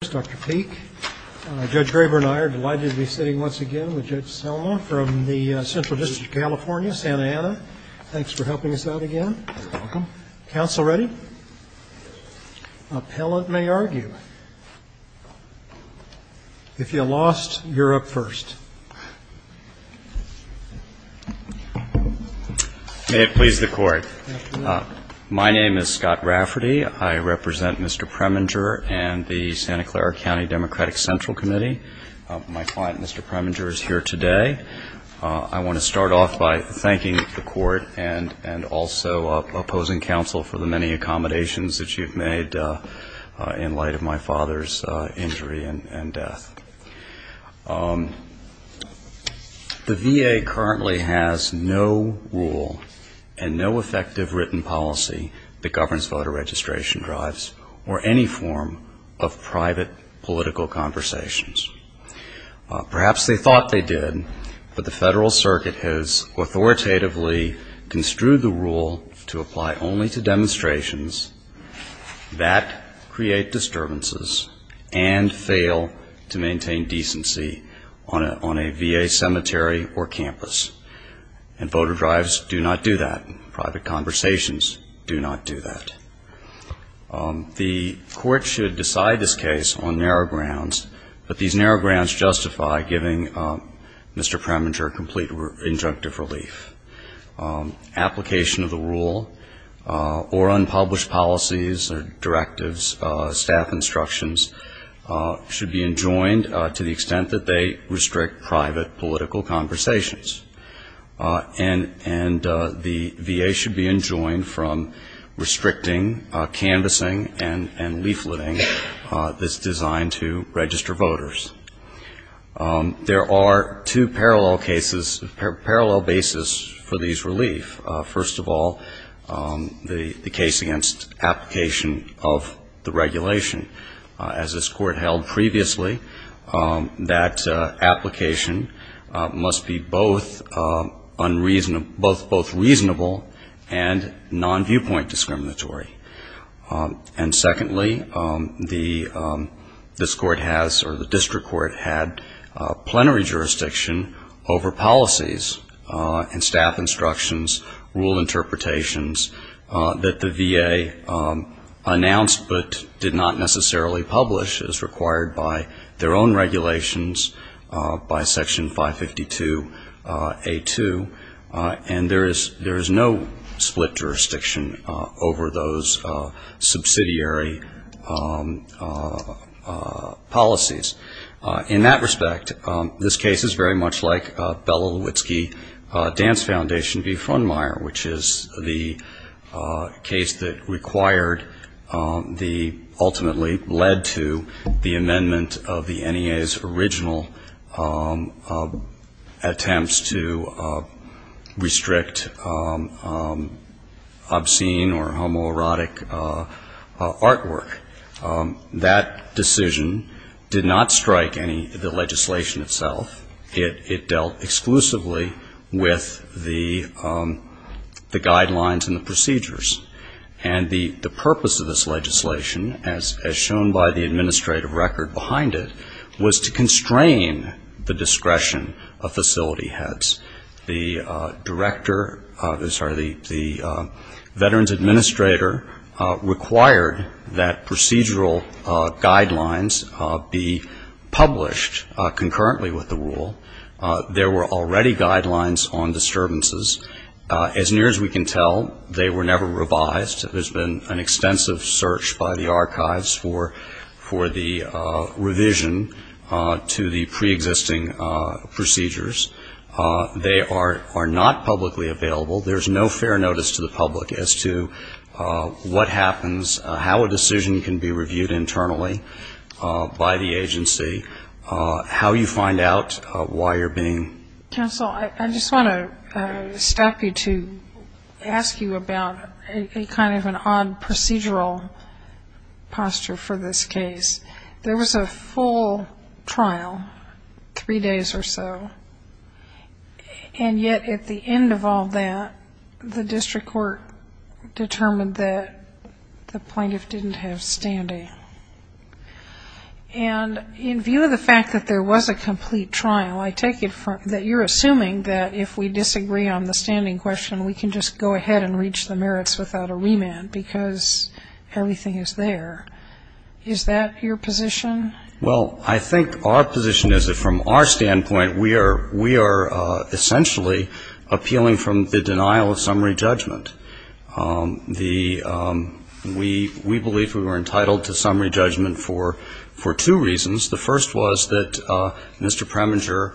Dr. Peake, Judge Graber and I are delighted to be sitting once again with Judge Selma from the Central District of California, Santa Ana. Thanks for helping us out again. You're welcome. Counsel ready? Appellant may argue. If you lost, you're up first. May it please the Court. My name is Scott Rafferty. I represent Mr. Preminger and the Santa Clara County Democratic Central Committee. My client, Mr. Preminger, is here today. I want to start off by thanking the Court and also opposing counsel for the many accommodations that you've made in light of my father's injury and death. The VA currently has no rule and no effective written policy that governs voter registration drives or any form of private political conversations. Perhaps they thought they did, but the Federal Circuit has authoritatively construed the rule to apply only to demonstrations that maintain decency on a VA cemetery or campus, and voter drives do not do that. Private conversations do not do that. The Court should decide this case on narrow grounds, but these narrow grounds justify giving Mr. Preminger complete injunctive relief. Application of the rule or unpublished policies or directives, staff instructions, should be enjoined and to the extent that they restrict private political conversations. And the VA should be enjoined from restricting canvassing and leafleting that's designed to register voters. There are two parallel cases, parallel basis for these relief. First of all, the case against application of the regulation. As this Court held previously, that application must be both reasonable and non-viewpoint discriminatory. And secondly, this Court has or the district court had plenary jurisdiction over policies and staff instructions, rule interpretations, that the VA announced but did not necessarily enforce. This case is very much like Bella Lewitsky Dance Foundation v. Frundmeier, which is the case that required the ultimately non-viewpoint interpretation of the law. And it led to the amendment of the NEA's original attempts to restrict obscene or homoerotic artwork. That decision did not strike any of the legislation itself. It dealt exclusively with the guidelines and the procedures. And the purpose of this legislation, as shown by the administrative record behind it, was to constrain the discretion of facility heads. The director, sorry, the Veterans Administrator required that procedural guidelines be published concurrently with the rule. There were already guidelines on disturbances. As near as we can tell, they were never revised. There's been an extensive search by the archives for the revision to the preexisting procedures. They are not publicly available. There's no fair notice to the public as to what happens, how a decision can be reviewed internally by the agency, how you find out why you're being. Counsel, I just want to stop you to ask you about a kind of an odd procedural posture for this case. There was a full trial, three days or so. And yet at the end of all that, the district court determined that the plaintiff didn't have standing. And in view of the fact that there was a complete trial, I take it that you're assuming that if we disagree on the standing question, we can just go ahead and reach the merits without a remand, because everything is there. Is that your position? Well, I think our position is that from our standpoint, we are essentially appealing from the denial of summary judgment. The we believe we were entitled to summary judgment for two reasons. The first was that Mr. Preminger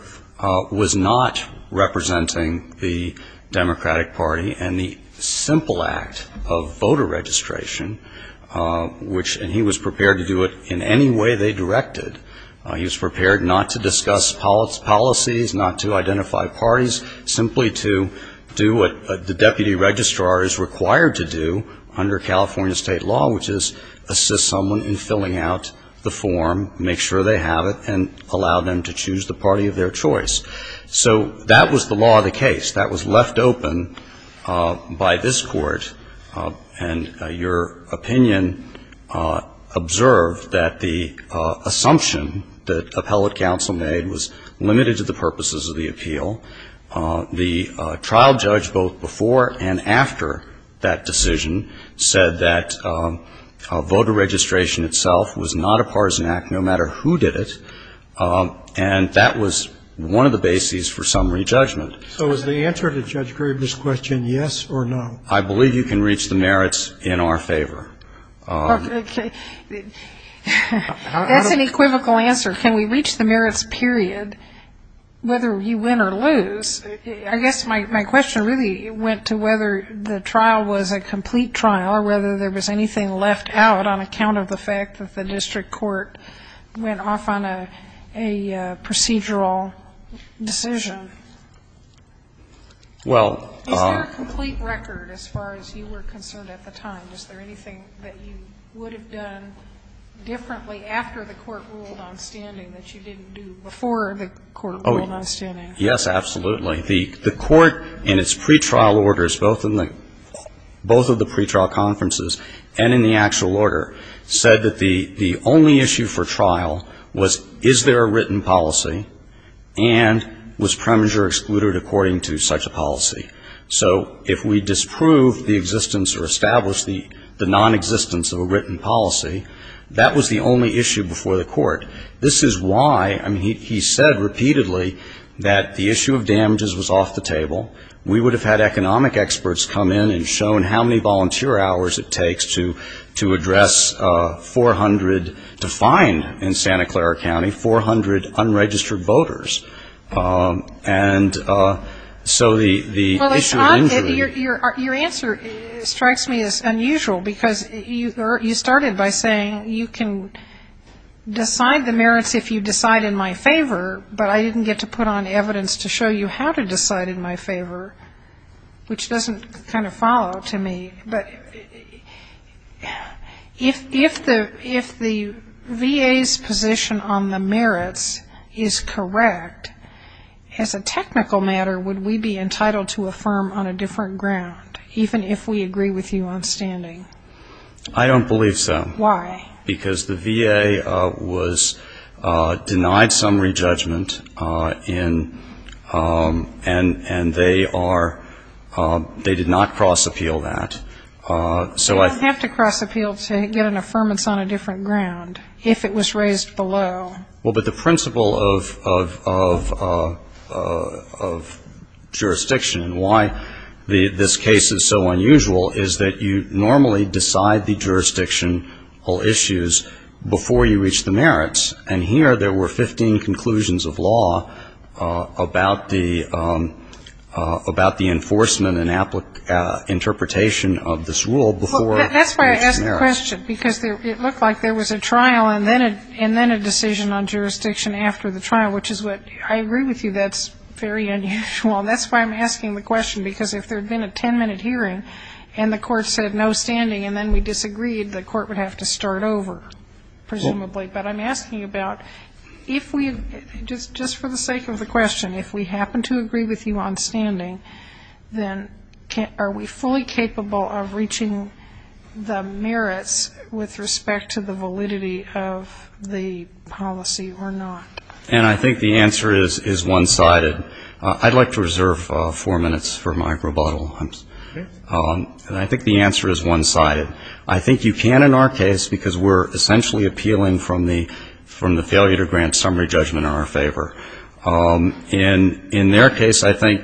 was not representing the Democratic Party and the simple act of voter registration, which he was prepared to do it in any way they directed. He was prepared not to discuss policies, not to identify parties, simply to do what the deputy registrar did. The deputy registrar is required to do under California state law, which is assist someone in filling out the form, make sure they have it, and allow them to choose the party of their choice. So that was the law of the case. That was left open by this Court. And your opinion observed that the assumption that appellate counsel made was limited to the purposes of the appeal. The trial judge both before and after that decision said that voter registration itself was not a partisan act, no matter who did it. And that was one of the bases for summary judgment. So is the answer to Judge Graber's question yes or no? I believe you can reach the merits in our favor. That's an equivocal answer. Can we reach the merits, period, whether you win or lose? I guess my question really went to whether the trial was a complete trial or whether there was anything left out on account of the fact that the district court went off on a procedural decision. Is there a complete record as far as you were concerned at the time? Is there anything that you would have done differently after the Court ruled on standing that you didn't do before the Court ruled on standing? Yes, absolutely. The Court in its pretrial orders, both of the pretrial conferences and in the actual order, said that the only issue for trial was is there a written policy and was premeditated and the measure excluded according to such a policy. So if we disproved the existence or established the nonexistence of a written policy, that was the only issue before the Court. This is why, I mean, he said repeatedly that the issue of damages was off the table. We would have had economic experts come in and shown how many volunteer hours it takes to address 400, in Santa Clara County, 400 unregistered voters. And so the issue of injury. Your answer strikes me as unusual, because you started by saying you can decide the merits if you decide in my favor, but I didn't get to put on evidence to show you how to decide in my favor, which doesn't kind of follow to me. But if the VA's position on the merits is correct, as a technical matter, would we be entitled to affirm on a different ground, even if we agree with you on standing? I don't believe so. Why? Because the VA was denied some re-judgment, and they are, they did not cross-appeal that. You don't have to cross-appeal to get an affirmance on a different ground, if it was raised below. Well, but the principle of jurisdiction and why this case is so unusual is that you normally decide the jurisdiction, all issues, before you reach the merits. And here there were 15 conclusions of law about the enforcement and interpretation of this rule before you reached the merits. Well, that's why I asked the question, because it looked like there was a trial and then a decision on jurisdiction after the trial, which is what I agree with you, that's very unusual. Well, that's why I'm asking the question, because if there had been a 10-minute hearing and the court said no standing and then we disagreed, the court would have to start over, presumably. But I'm asking about if we, just for the sake of the question, if we happen to agree with you on standing, then are we fully capable of reaching the merits with respect to the validity of the policy or not? And I think the answer is one-sided. I'd like to reserve four minutes for my rebuttal. And I think the answer is one-sided. I think you can in our case, because we're essentially appealing from the failure to grant summary judgment in our favor. And in their case, I think,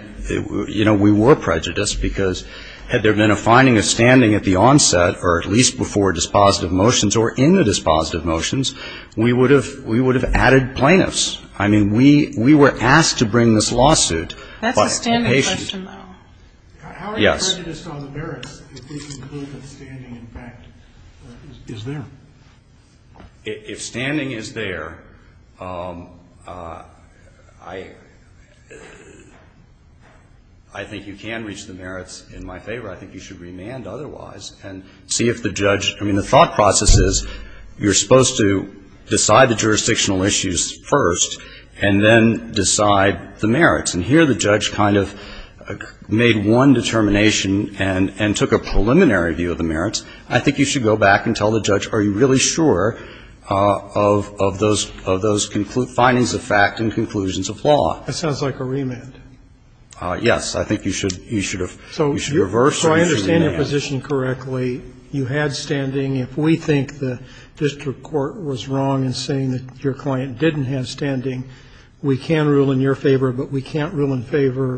you know, we were prejudiced, because had there been a finding of standing at the onset or at least before dispositive motions or in the dispositive motions, we would have added plaintiffs. I mean, we were asked to bring this lawsuit, but the patient ---- That's a standing question, though. Yes. How are you prejudiced on the merits if they conclude that standing, in fact, is there? If standing is there, I think you can reach the merits in my favor. I think you should remand otherwise and see if the judge ---- I mean, the thought process is you're supposed to decide the jurisdictional issues first and then decide the merits. And here the judge kind of made one determination and took a preliminary view of the merits. I think you should go back and tell the judge, are you really sure of those findings of fact and conclusions of law? That sounds like a remand. Yes. I think you should reverse the remand. So I understand your position correctly. You had standing. If we think the district court was wrong in saying that your client didn't have standing, we can rule in your favor, but we can't rule in favor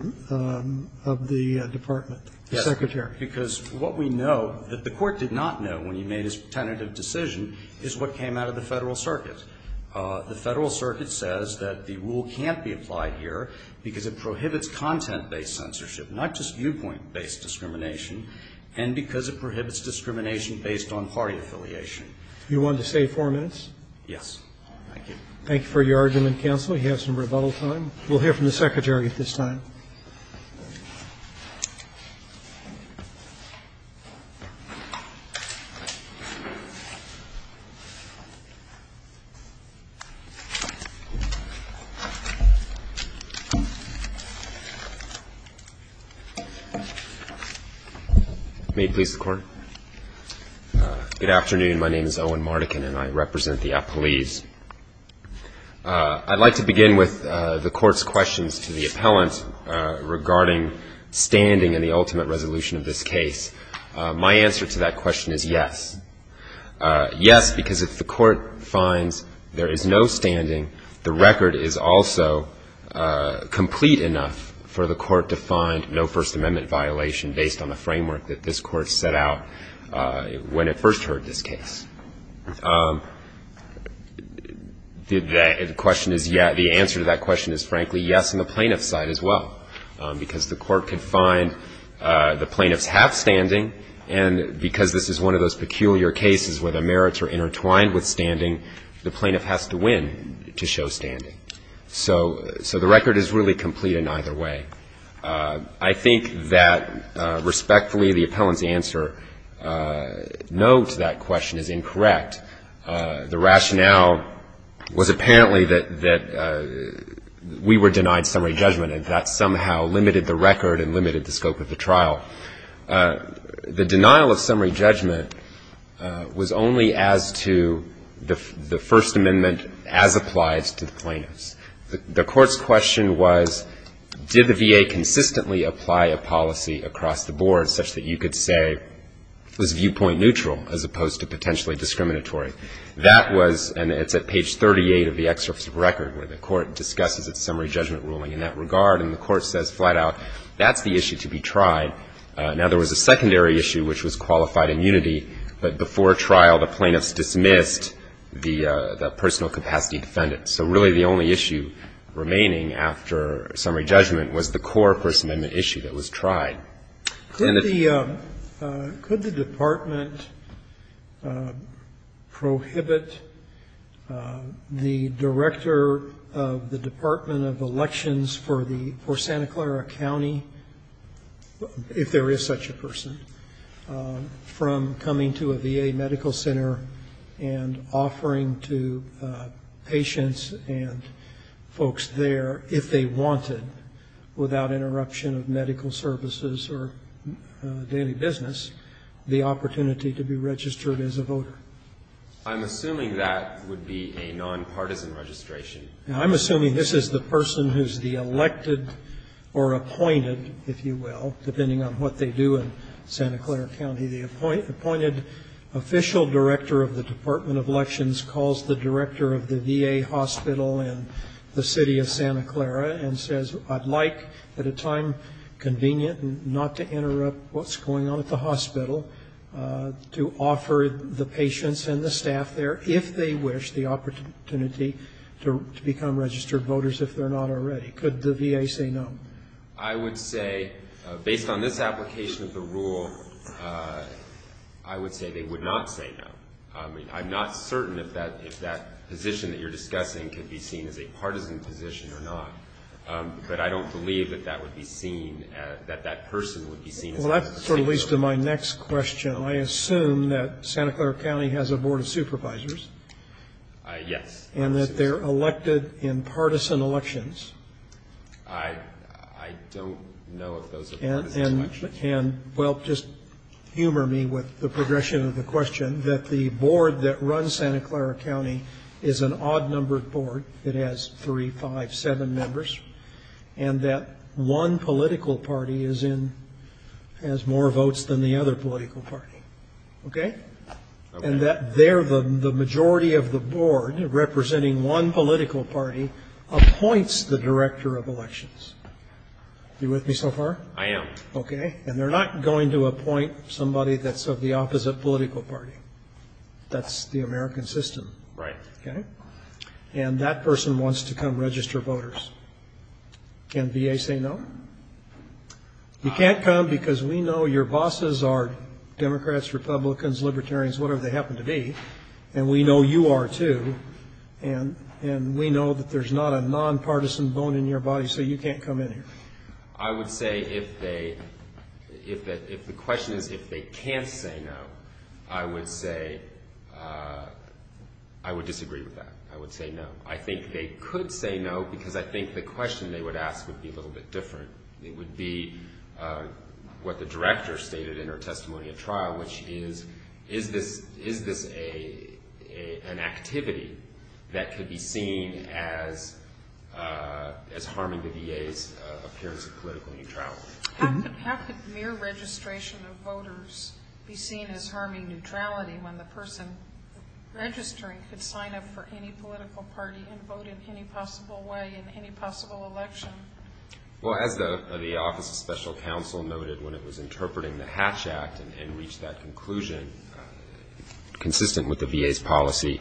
of the department, the secretary. Yes. Because what we know that the court did not know when he made his tentative decision is what came out of the Federal Circuit. The Federal Circuit says that the rule can't be applied here because it prohibits content-based censorship, not just viewpoint-based discrimination, and because it prohibits discrimination based on party affiliation. You want to stay four minutes? Yes. Thank you. Thank you for your argument, counsel. You have some rebuttal time. We'll hear from the secretary at this time. May it please the Court. Good afternoon. My name is Owen Mardikin, and I represent the appellees. I'd like to begin with the Court's questions to the appellant regarding standing and the ultimate resolution of this case. My answer to that question is yes. Yes, because if the Court finds there is no standing, the record is also complete enough for the Court to find no First Amendment violation based on the framework that this Court set out when it first heard this case. The question is yes. The answer to that question is, frankly, yes, on the plaintiff's side as well, because the Court could find the plaintiff's half standing, and because this is one of those peculiar cases where the merits are intertwined with standing, the plaintiff has to win to show standing. So the record is really complete in either way. I think that, respectfully, the appellant's answer, no to that question, is incorrect. The rationale was apparently that we were denied summary judgment, and that somehow limited the record and limited the scope of the trial. The denial of summary judgment was only as to the First Amendment as applies to the plaintiffs. The Court's question was, did the VA consistently apply a policy across the board, such that you could say it was viewpoint neutral as opposed to potentially discriminatory? That was, and it's at page 38 of the excerpt of the record where the Court discusses its summary judgment ruling in that regard, and the Court says flat out, that's the issue to be tried. Now, there was a secondary issue which was qualified immunity, but before trial, the plaintiffs dismissed the personal capacity defendant. So really the only issue remaining after summary judgment was the core First Amendment issue that was tried. Could the department prohibit the director of the Department of Elections for Santa Clara County, if there is such a person, from coming to a VA medical center and offering to patients and folks there, if they wanted, without interruption of medical services or daily business, the opportunity to be registered as a voter? I'm assuming that would be a nonpartisan registration. I'm assuming this is the person who's the elected or appointed, if you will, depending on what they do in Santa Clara County. The appointed official director of the Department of Elections calls the director of the VA hospital in the city of Santa Clara and says, I'd like, at a time convenient and not to interrupt what's going on at the hospital, to offer the patients and the staff there, if they wish, the opportunity to become registered voters, if they're not already. Could the VA say no? I would say, based on this application of the rule, I would say they would not say no. I mean, I'm not certain if that position that you're discussing could be seen as a Well, that sort of leads to my next question. I assume that Santa Clara County has a board of supervisors. Yes. And that they're elected in partisan elections. I don't know if those are partisan elections. And, well, just humor me with the progression of the question, that the board that runs Santa Clara County is an odd-numbered board that has three, five, seven members, and that one political party has more votes than the other political party. Okay? Okay. And the majority of the board representing one political party appoints the director of elections. Are you with me so far? I am. Okay. And they're not going to appoint somebody that's of the opposite political party. That's the American system. Right. Okay? And that person wants to come register voters. Can VA say no? You can't come because we know your bosses are Democrats, Republicans, Libertarians, whatever they happen to be. And we know you are, too. And we know that there's not a nonpartisan bone in your body, so you can't come in here. I would say if they – if the question is if they can't say no, I would say I would disagree with that. I would say no. I think they could say no because I think the question they would ask would be a little bit different. It would be what the director stated in her testimony at trial, which is, is this an activity that could be seen as harming the VA's appearance of political neutrality? How could mere registration of voters be seen as harming neutrality when the person registering could sign up for any political party and vote in any possible way in any possible election? Well, as the Office of Special Counsel noted when it was interpreting the Hatch Act and reached that conclusion, consistent with the VA's policy,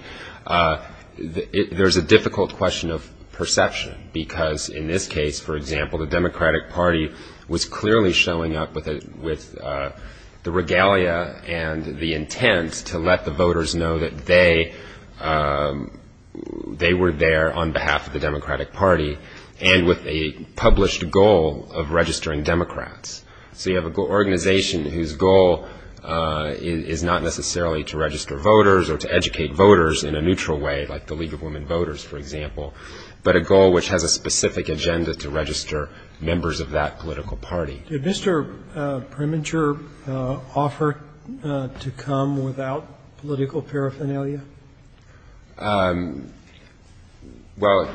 there's a difficult question of perception. Because in this case, for example, the Democratic Party was clearly showing up with the regalia and the intent to let the voters know that they were there on behalf of the Democratic Party, and with a published goal of registering Democrats. So you have an organization whose goal is not necessarily to register voters or to educate voters in a neutral way, like the League of Women Voters, for example, but a goal which has a specific agenda to register members of that political party. Did Mr. Preminger offer to come without political paraphernalia? Well,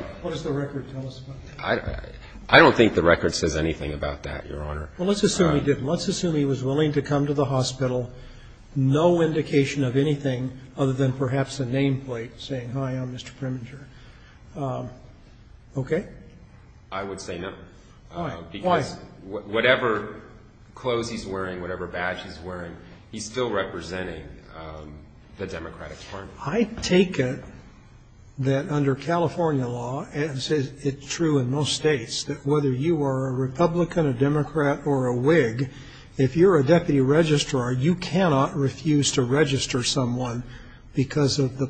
I don't think the record says anything about that, Your Honor. Well, let's assume he didn't. Let's assume he was willing to come to the hospital, no indication of anything other than perhaps a nameplate saying, hi, I'm Mr. Preminger. Okay? I would say no. Why? Because whatever clothes he's wearing, whatever badge he's wearing, he's still representing the Democratic Party. I take it that under California law, as is true in most states, that whether you are a Republican, a Democrat, or a Whig, if you're a deputy registrar, you cannot refuse to register someone because of the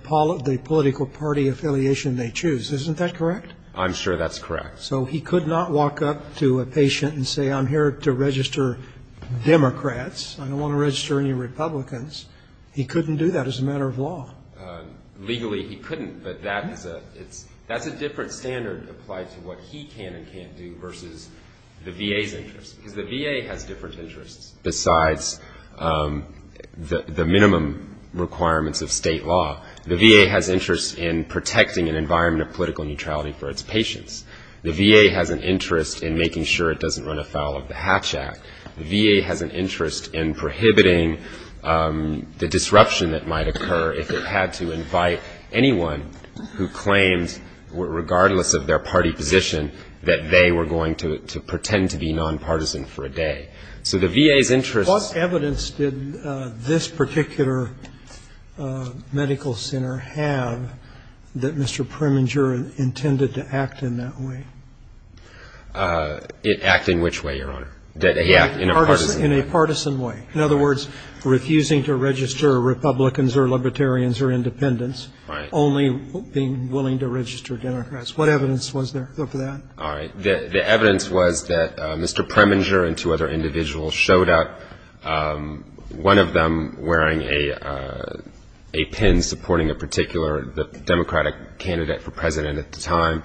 political party affiliation they choose. Isn't that correct? I'm sure that's correct. So he could not walk up to a patient and say, I'm here to register Democrats. I don't want to register any Republicans. He couldn't do that as a matter of law. Legally, he couldn't, but that's a different standard applied to what he can and can't do versus the VA's interest, because the VA has different interests. Besides the minimum requirements of state law, the VA has interests in protecting an environment of political neutrality for its patients. The VA has an interest in making sure it doesn't run afoul of the Hatch Act. The VA has an interest in prohibiting the disruption that might occur if it had to invite anyone who claimed, regardless of their party position, that they were going to pretend to be nonpartisan for a day. So the VA's interest was to protect the environment. In acting which way, Your Honor? That they act in a partisan way. Partisan way. In other words, refusing to register Republicans or Libertarians or Independents, only being willing to register Democrats. What evidence was there for that? All right. The evidence was that Mr. Preminger and two other individuals showed up, one of them wearing a pin supporting a particular Democratic candidate for president at the time.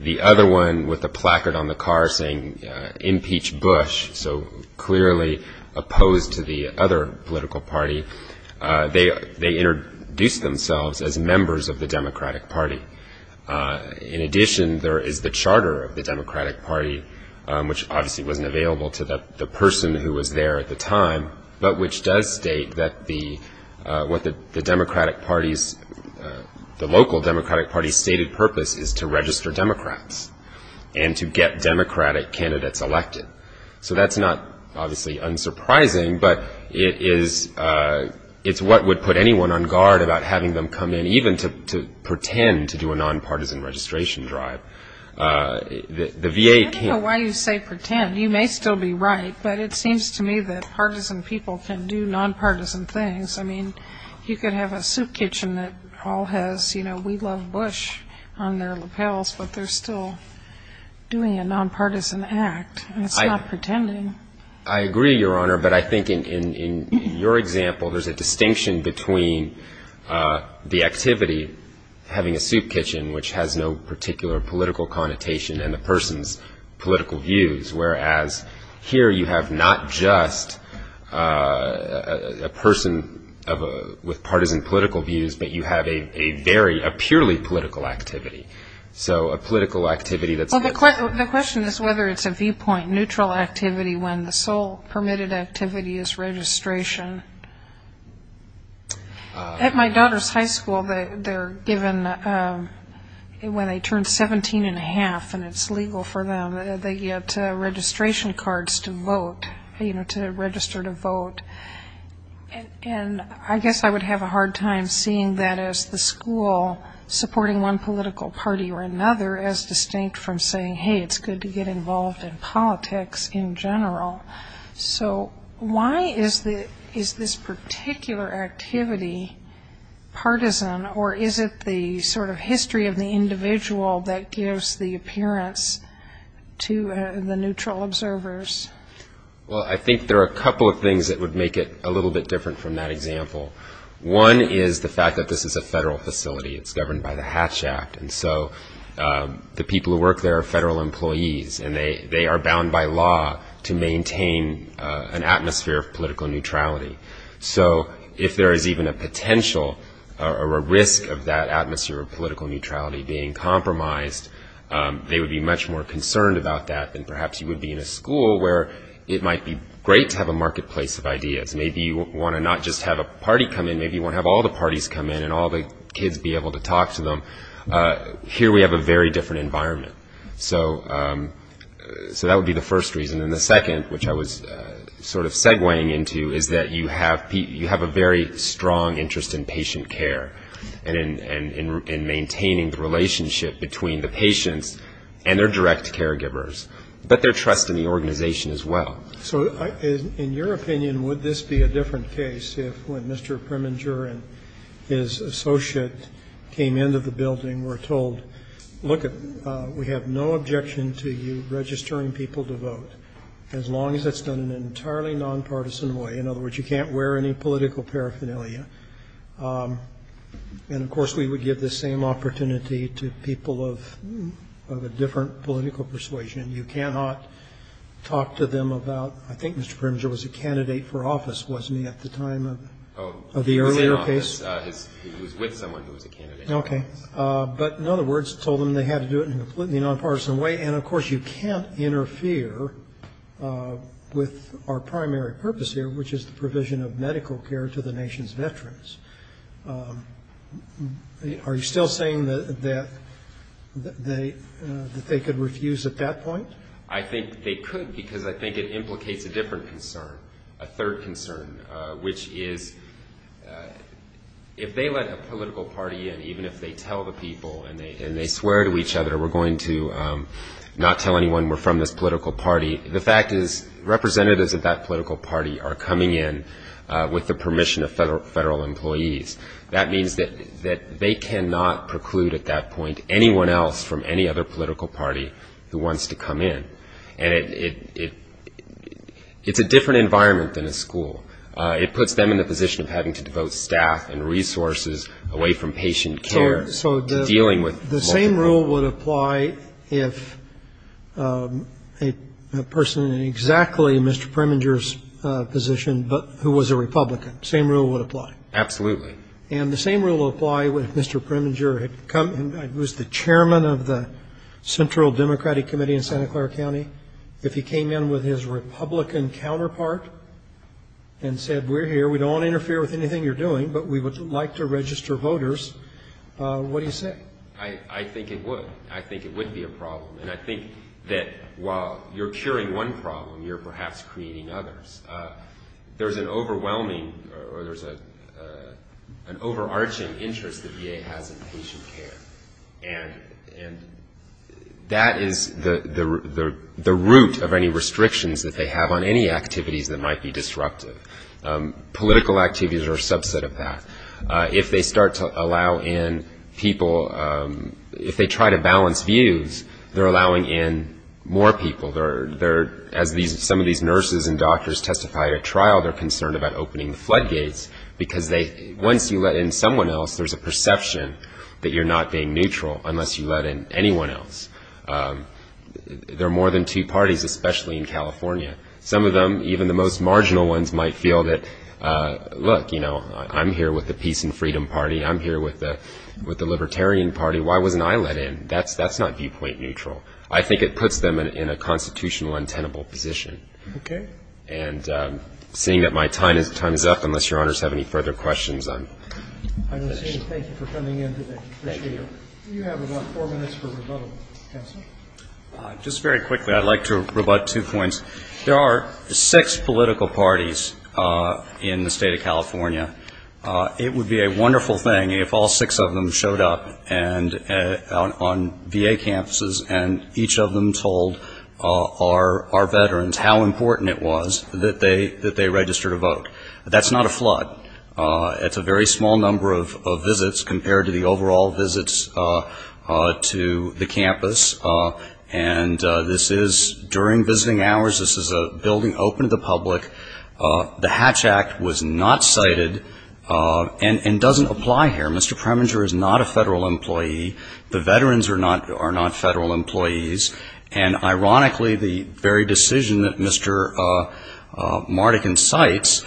The other one with a placard on the car saying Impeach Bush, so clearly opposed to the other political party. They introduced themselves as members of the Democratic Party. In addition, there is the charter of the Democratic Party, which obviously wasn't available to the person who was there at the time, but which does state that what the Democratic Party's, the local Democratic Party's stated purpose is to register Democrats and to get Democratic candidates elected. So that's not obviously unsurprising, but it is what would put anyone on guard about having them come in, even to pretend to do a nonpartisan registration drive. The VA can't. I don't know why you say pretend. You may still be right, but it seems to me that partisan people can do nonpartisan things. I mean, you could have a soup kitchen that all has, you know, we love Bush on their lapels, but they're still doing a nonpartisan act. It's not pretending. I agree, Your Honor, but I think in your example, there's a distinction between the activity, having a soup kitchen, which has no particular political connotation and the person's political views, whereas here you have not just a person with partisan political views, but you have a very, a purely political activity. So a political activity that's not. Well, the question is whether it's a viewpoint, neutral activity, when the sole permitted activity is registration. At my daughter's high school, they're given when they turn 17 and a half, and it's legal for them, they get registration cards to vote, you know, to register to vote. And I guess I would have a hard time seeing that as the school supporting one political party or another as distinct from saying, hey, it's good to get involved in politics in general. So why is this particular activity partisan, or is it the sort of history of the individual that gives the appearance to the neutral observers? Well, I think there are a couple of things that would make it a little bit different from that example. One is the fact that this is a federal facility. It's governed by the Hatch Act, and so the people who work there are federal employees, and they are bound by law to maintain an atmosphere of political neutrality. So if there is even a potential or a risk of that atmosphere of political neutrality being compromised, they would be much more concerned about that than perhaps you would be in a school where it might be great to have a marketplace of ideas. Maybe you want to not just have a party come in, maybe you want to have all the parties come in and all the kids be able to talk to them. Here we have a very different environment. So that would be the first reason. And then the second, which I was sort of segueing into, is that you have a very strong interest in patient care and in maintaining the relationship between the patients and their direct caregivers, but their trust in the organization as well. So in your opinion, would this be a different case if, when Mr. Preminger and his associate came into the building, were told, look, we have no objection to you registering people to vote, as long as it's done in an entirely nonpartisan way. In other words, you can't wear any political paraphernalia. And, of course, we would give the same opportunity to people of a different political persuasion. You cannot talk to them about, I think Mr. Preminger was a candidate for office, wasn't he, at the time of the earlier case? He was with someone who was a candidate. Okay. But, in other words, told them they had to do it in a completely nonpartisan way. And, of course, you can't interfere with our primary purpose here, which is the provision of medical care to the nation's veterans. Are you still saying that they could refuse at that point? I think they could because I think it implicates a different concern, a third concern, which is if they let a political party in, even if they tell the people and they swear to each other, we're going to not tell anyone we're from this political party, the fact is representatives of that political party are coming in with the permission of federal employees. That means that they cannot preclude at that point anyone else from any other political party who wants to come in. And it's a different environment than a school. It puts them in the position of having to devote staff and resources away from patient care to dealing with multiple people. So the same rule would apply if a person in exactly Mr. Preminger's position, but who was a Republican, same rule would apply? Absolutely. And the same rule would apply if Mr. Preminger had come, who was the chairman of the Central Democratic Committee in Santa Clara County, if he came in with his Republican counterpart and said, we're here, we don't want to interfere with anything you're doing, but we would like to register voters, what do you say? I think it would. I think it would be a problem. And I think that while you're curing one problem, you're perhaps creating others. There's an overwhelming or there's an overarching interest the VA has in patient care. And that is the root of any restrictions that they have on any activities that might be disruptive. Political activities are a subset of that. If they start to allow in people, if they try to balance views, they're allowing in more people. As some of these nurses and doctors testified at trial, they're concerned about opening the floodgates because once you let in someone else, there's a perception that you're not being neutral unless you let in anyone else. There are more than two parties, especially in California. Some of them, even the most marginal ones, might feel that, look, I'm here with the Peace and Freedom Party, I'm here with the Libertarian Party, why wasn't I let in? That's not viewpoint neutral. I think it puts them in a constitutional and tenable position. Okay. And seeing that my time is up, unless Your Honors have any further questions, I'm finished. I want to say thank you for coming in today. Appreciate it. Thank you. You have about four minutes for rebuttal. Counsel? Just very quickly, I'd like to rebut two points. There are six political parties in the state of California. It would be a wonderful thing if all six of them showed up on VA campuses and each of them told our veterans how important it was that they registered to vote. That's not a flood. It's a very small number of visits compared to the overall visits to the campus. And this is during visiting hours. This is a building open to the public. The Hatch Act was not cited and doesn't apply here. Mr. Preminger is not a federal employee. The veterans are not federal employees. And ironically, the very decision that Mr. Mardigan cites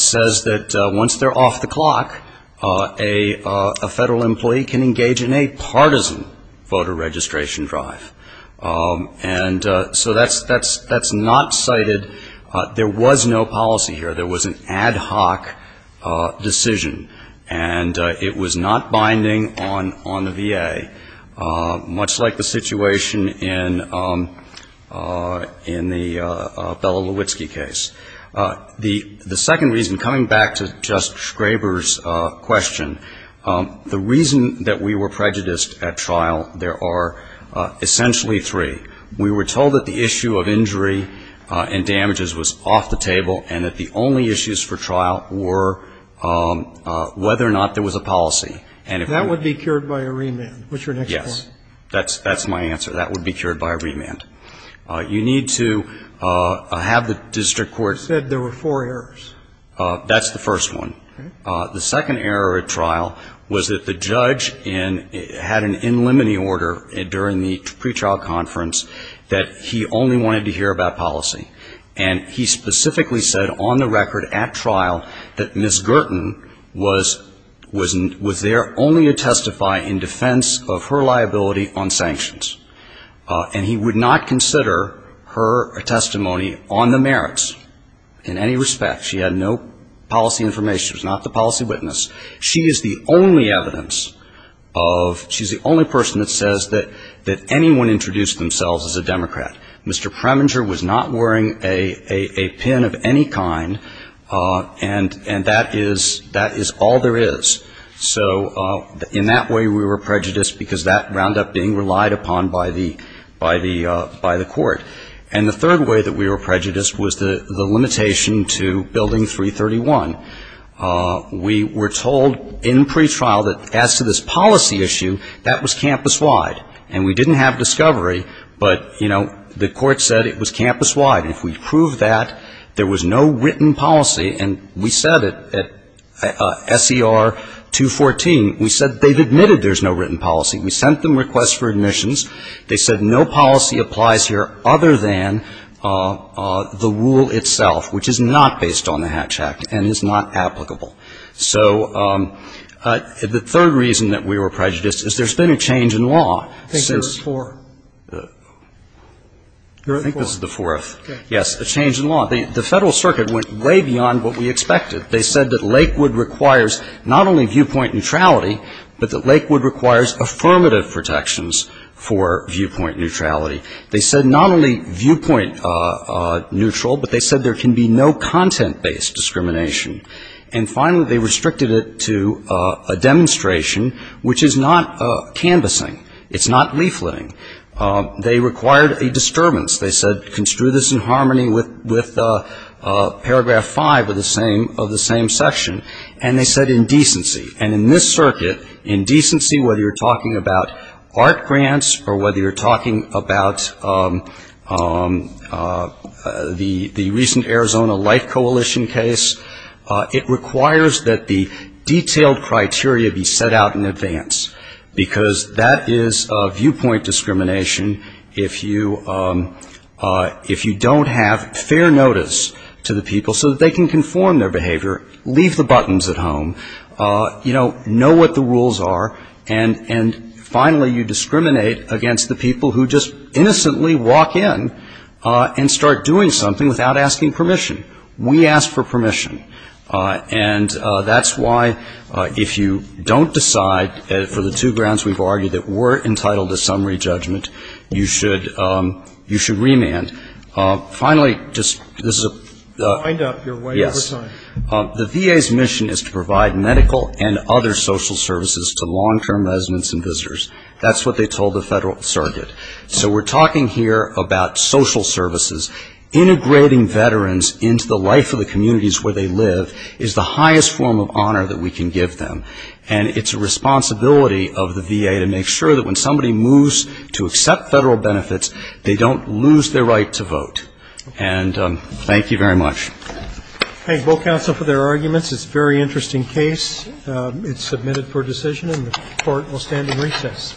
says that once they're off the clock, a federal employee can engage in a partisan voter registration drive. And so that's not cited. There was no policy here. There was an ad hoc decision. And it was not binding on the VA, much like the situation in the Bella Lewitsky case. The second reason, coming back to Justice Graber's question, the reason that we were prejudiced at trial, there are essentially three. We were told that the issue of injury and damages was off the table and that the only issues for trial were whether or not there was a policy. And if we were to be cured by a remand. What's your next point? Yes. That's my answer. That would be cured by a remand. You need to have the district court. You said there were four errors. That's the first one. Okay. The second error at trial was that the judge had an in limine order during the pre-trial conference that he only wanted to hear about policy. And he specifically said on the record at trial that Ms. Gerten was there only to testify in defense of her liability on sanctions. And he would not consider her testimony on the merits in any respect. She had no policy information. She was not the policy witness. She is the only evidence of she's the only person that says that anyone introduced themselves as a Democrat. Mr. Preminger was not wearing a pin of any kind. And that is all there is. So in that way we were prejudiced because that wound up being relied upon by the court. And the third way that we were prejudiced was the limitation to Building 331. We were told in pre-trial that as to this policy issue, that was campus wide. And we didn't have discovery, but, you know, the court said it was campus wide. And if we proved that, there was no written policy. And we said it at SER 214. We said they've admitted there's no written policy. We sent them requests for admissions. They said no policy applies here other than the rule itself, which is not based on the Hatch Act and is not applicable. So the third reason that we were prejudiced is there's been a change in law since. I think there was four. I think this is the fourth. Yes, a change in law. The Federal Circuit went way beyond what we expected. They said that Lakewood requires not only viewpoint neutrality, but that Lakewood requires affirmative protections for viewpoint neutrality. They said not only viewpoint neutral, but they said there can be no content-based discrimination. And, finally, they restricted it to a demonstration, which is not canvassing. It's not leafletting. They required a disturbance. They said construe this in harmony with Paragraph 5 of the same section. And they said indecency. And in this circuit, indecency, whether you're talking about art grants or whether you're talking about the recent Arizona Life Coalition case, it requires that the detailed criteria be set out in advance, because that is viewpoint discrimination if you don't have fair notice to the people so that they can conform their behavior, leave the buttons at home, you know, know what the rules are, and, finally, you discriminate against the people who just innocently walk in and start doing something without asking permission. We ask for permission. And that's why, if you don't decide, for the two grounds we've argued, that we're entitled to summary judgment, you should remand. Finally, this is a – yes. The VA's mission is to provide medical and other social services to long-term residents and visitors. That's what they told the federal circuit. So we're talking here about social services. Integrating veterans into the life of the communities where they live is the highest form of honor that we can give them. And it's a responsibility of the VA to make sure that when somebody moves to accept federal benefits, they don't lose their right to vote. And thank you very much. Thank you. Thank both counsel for their arguments. It's a very interesting case. It's submitted for decision, and the Court will stand at recess.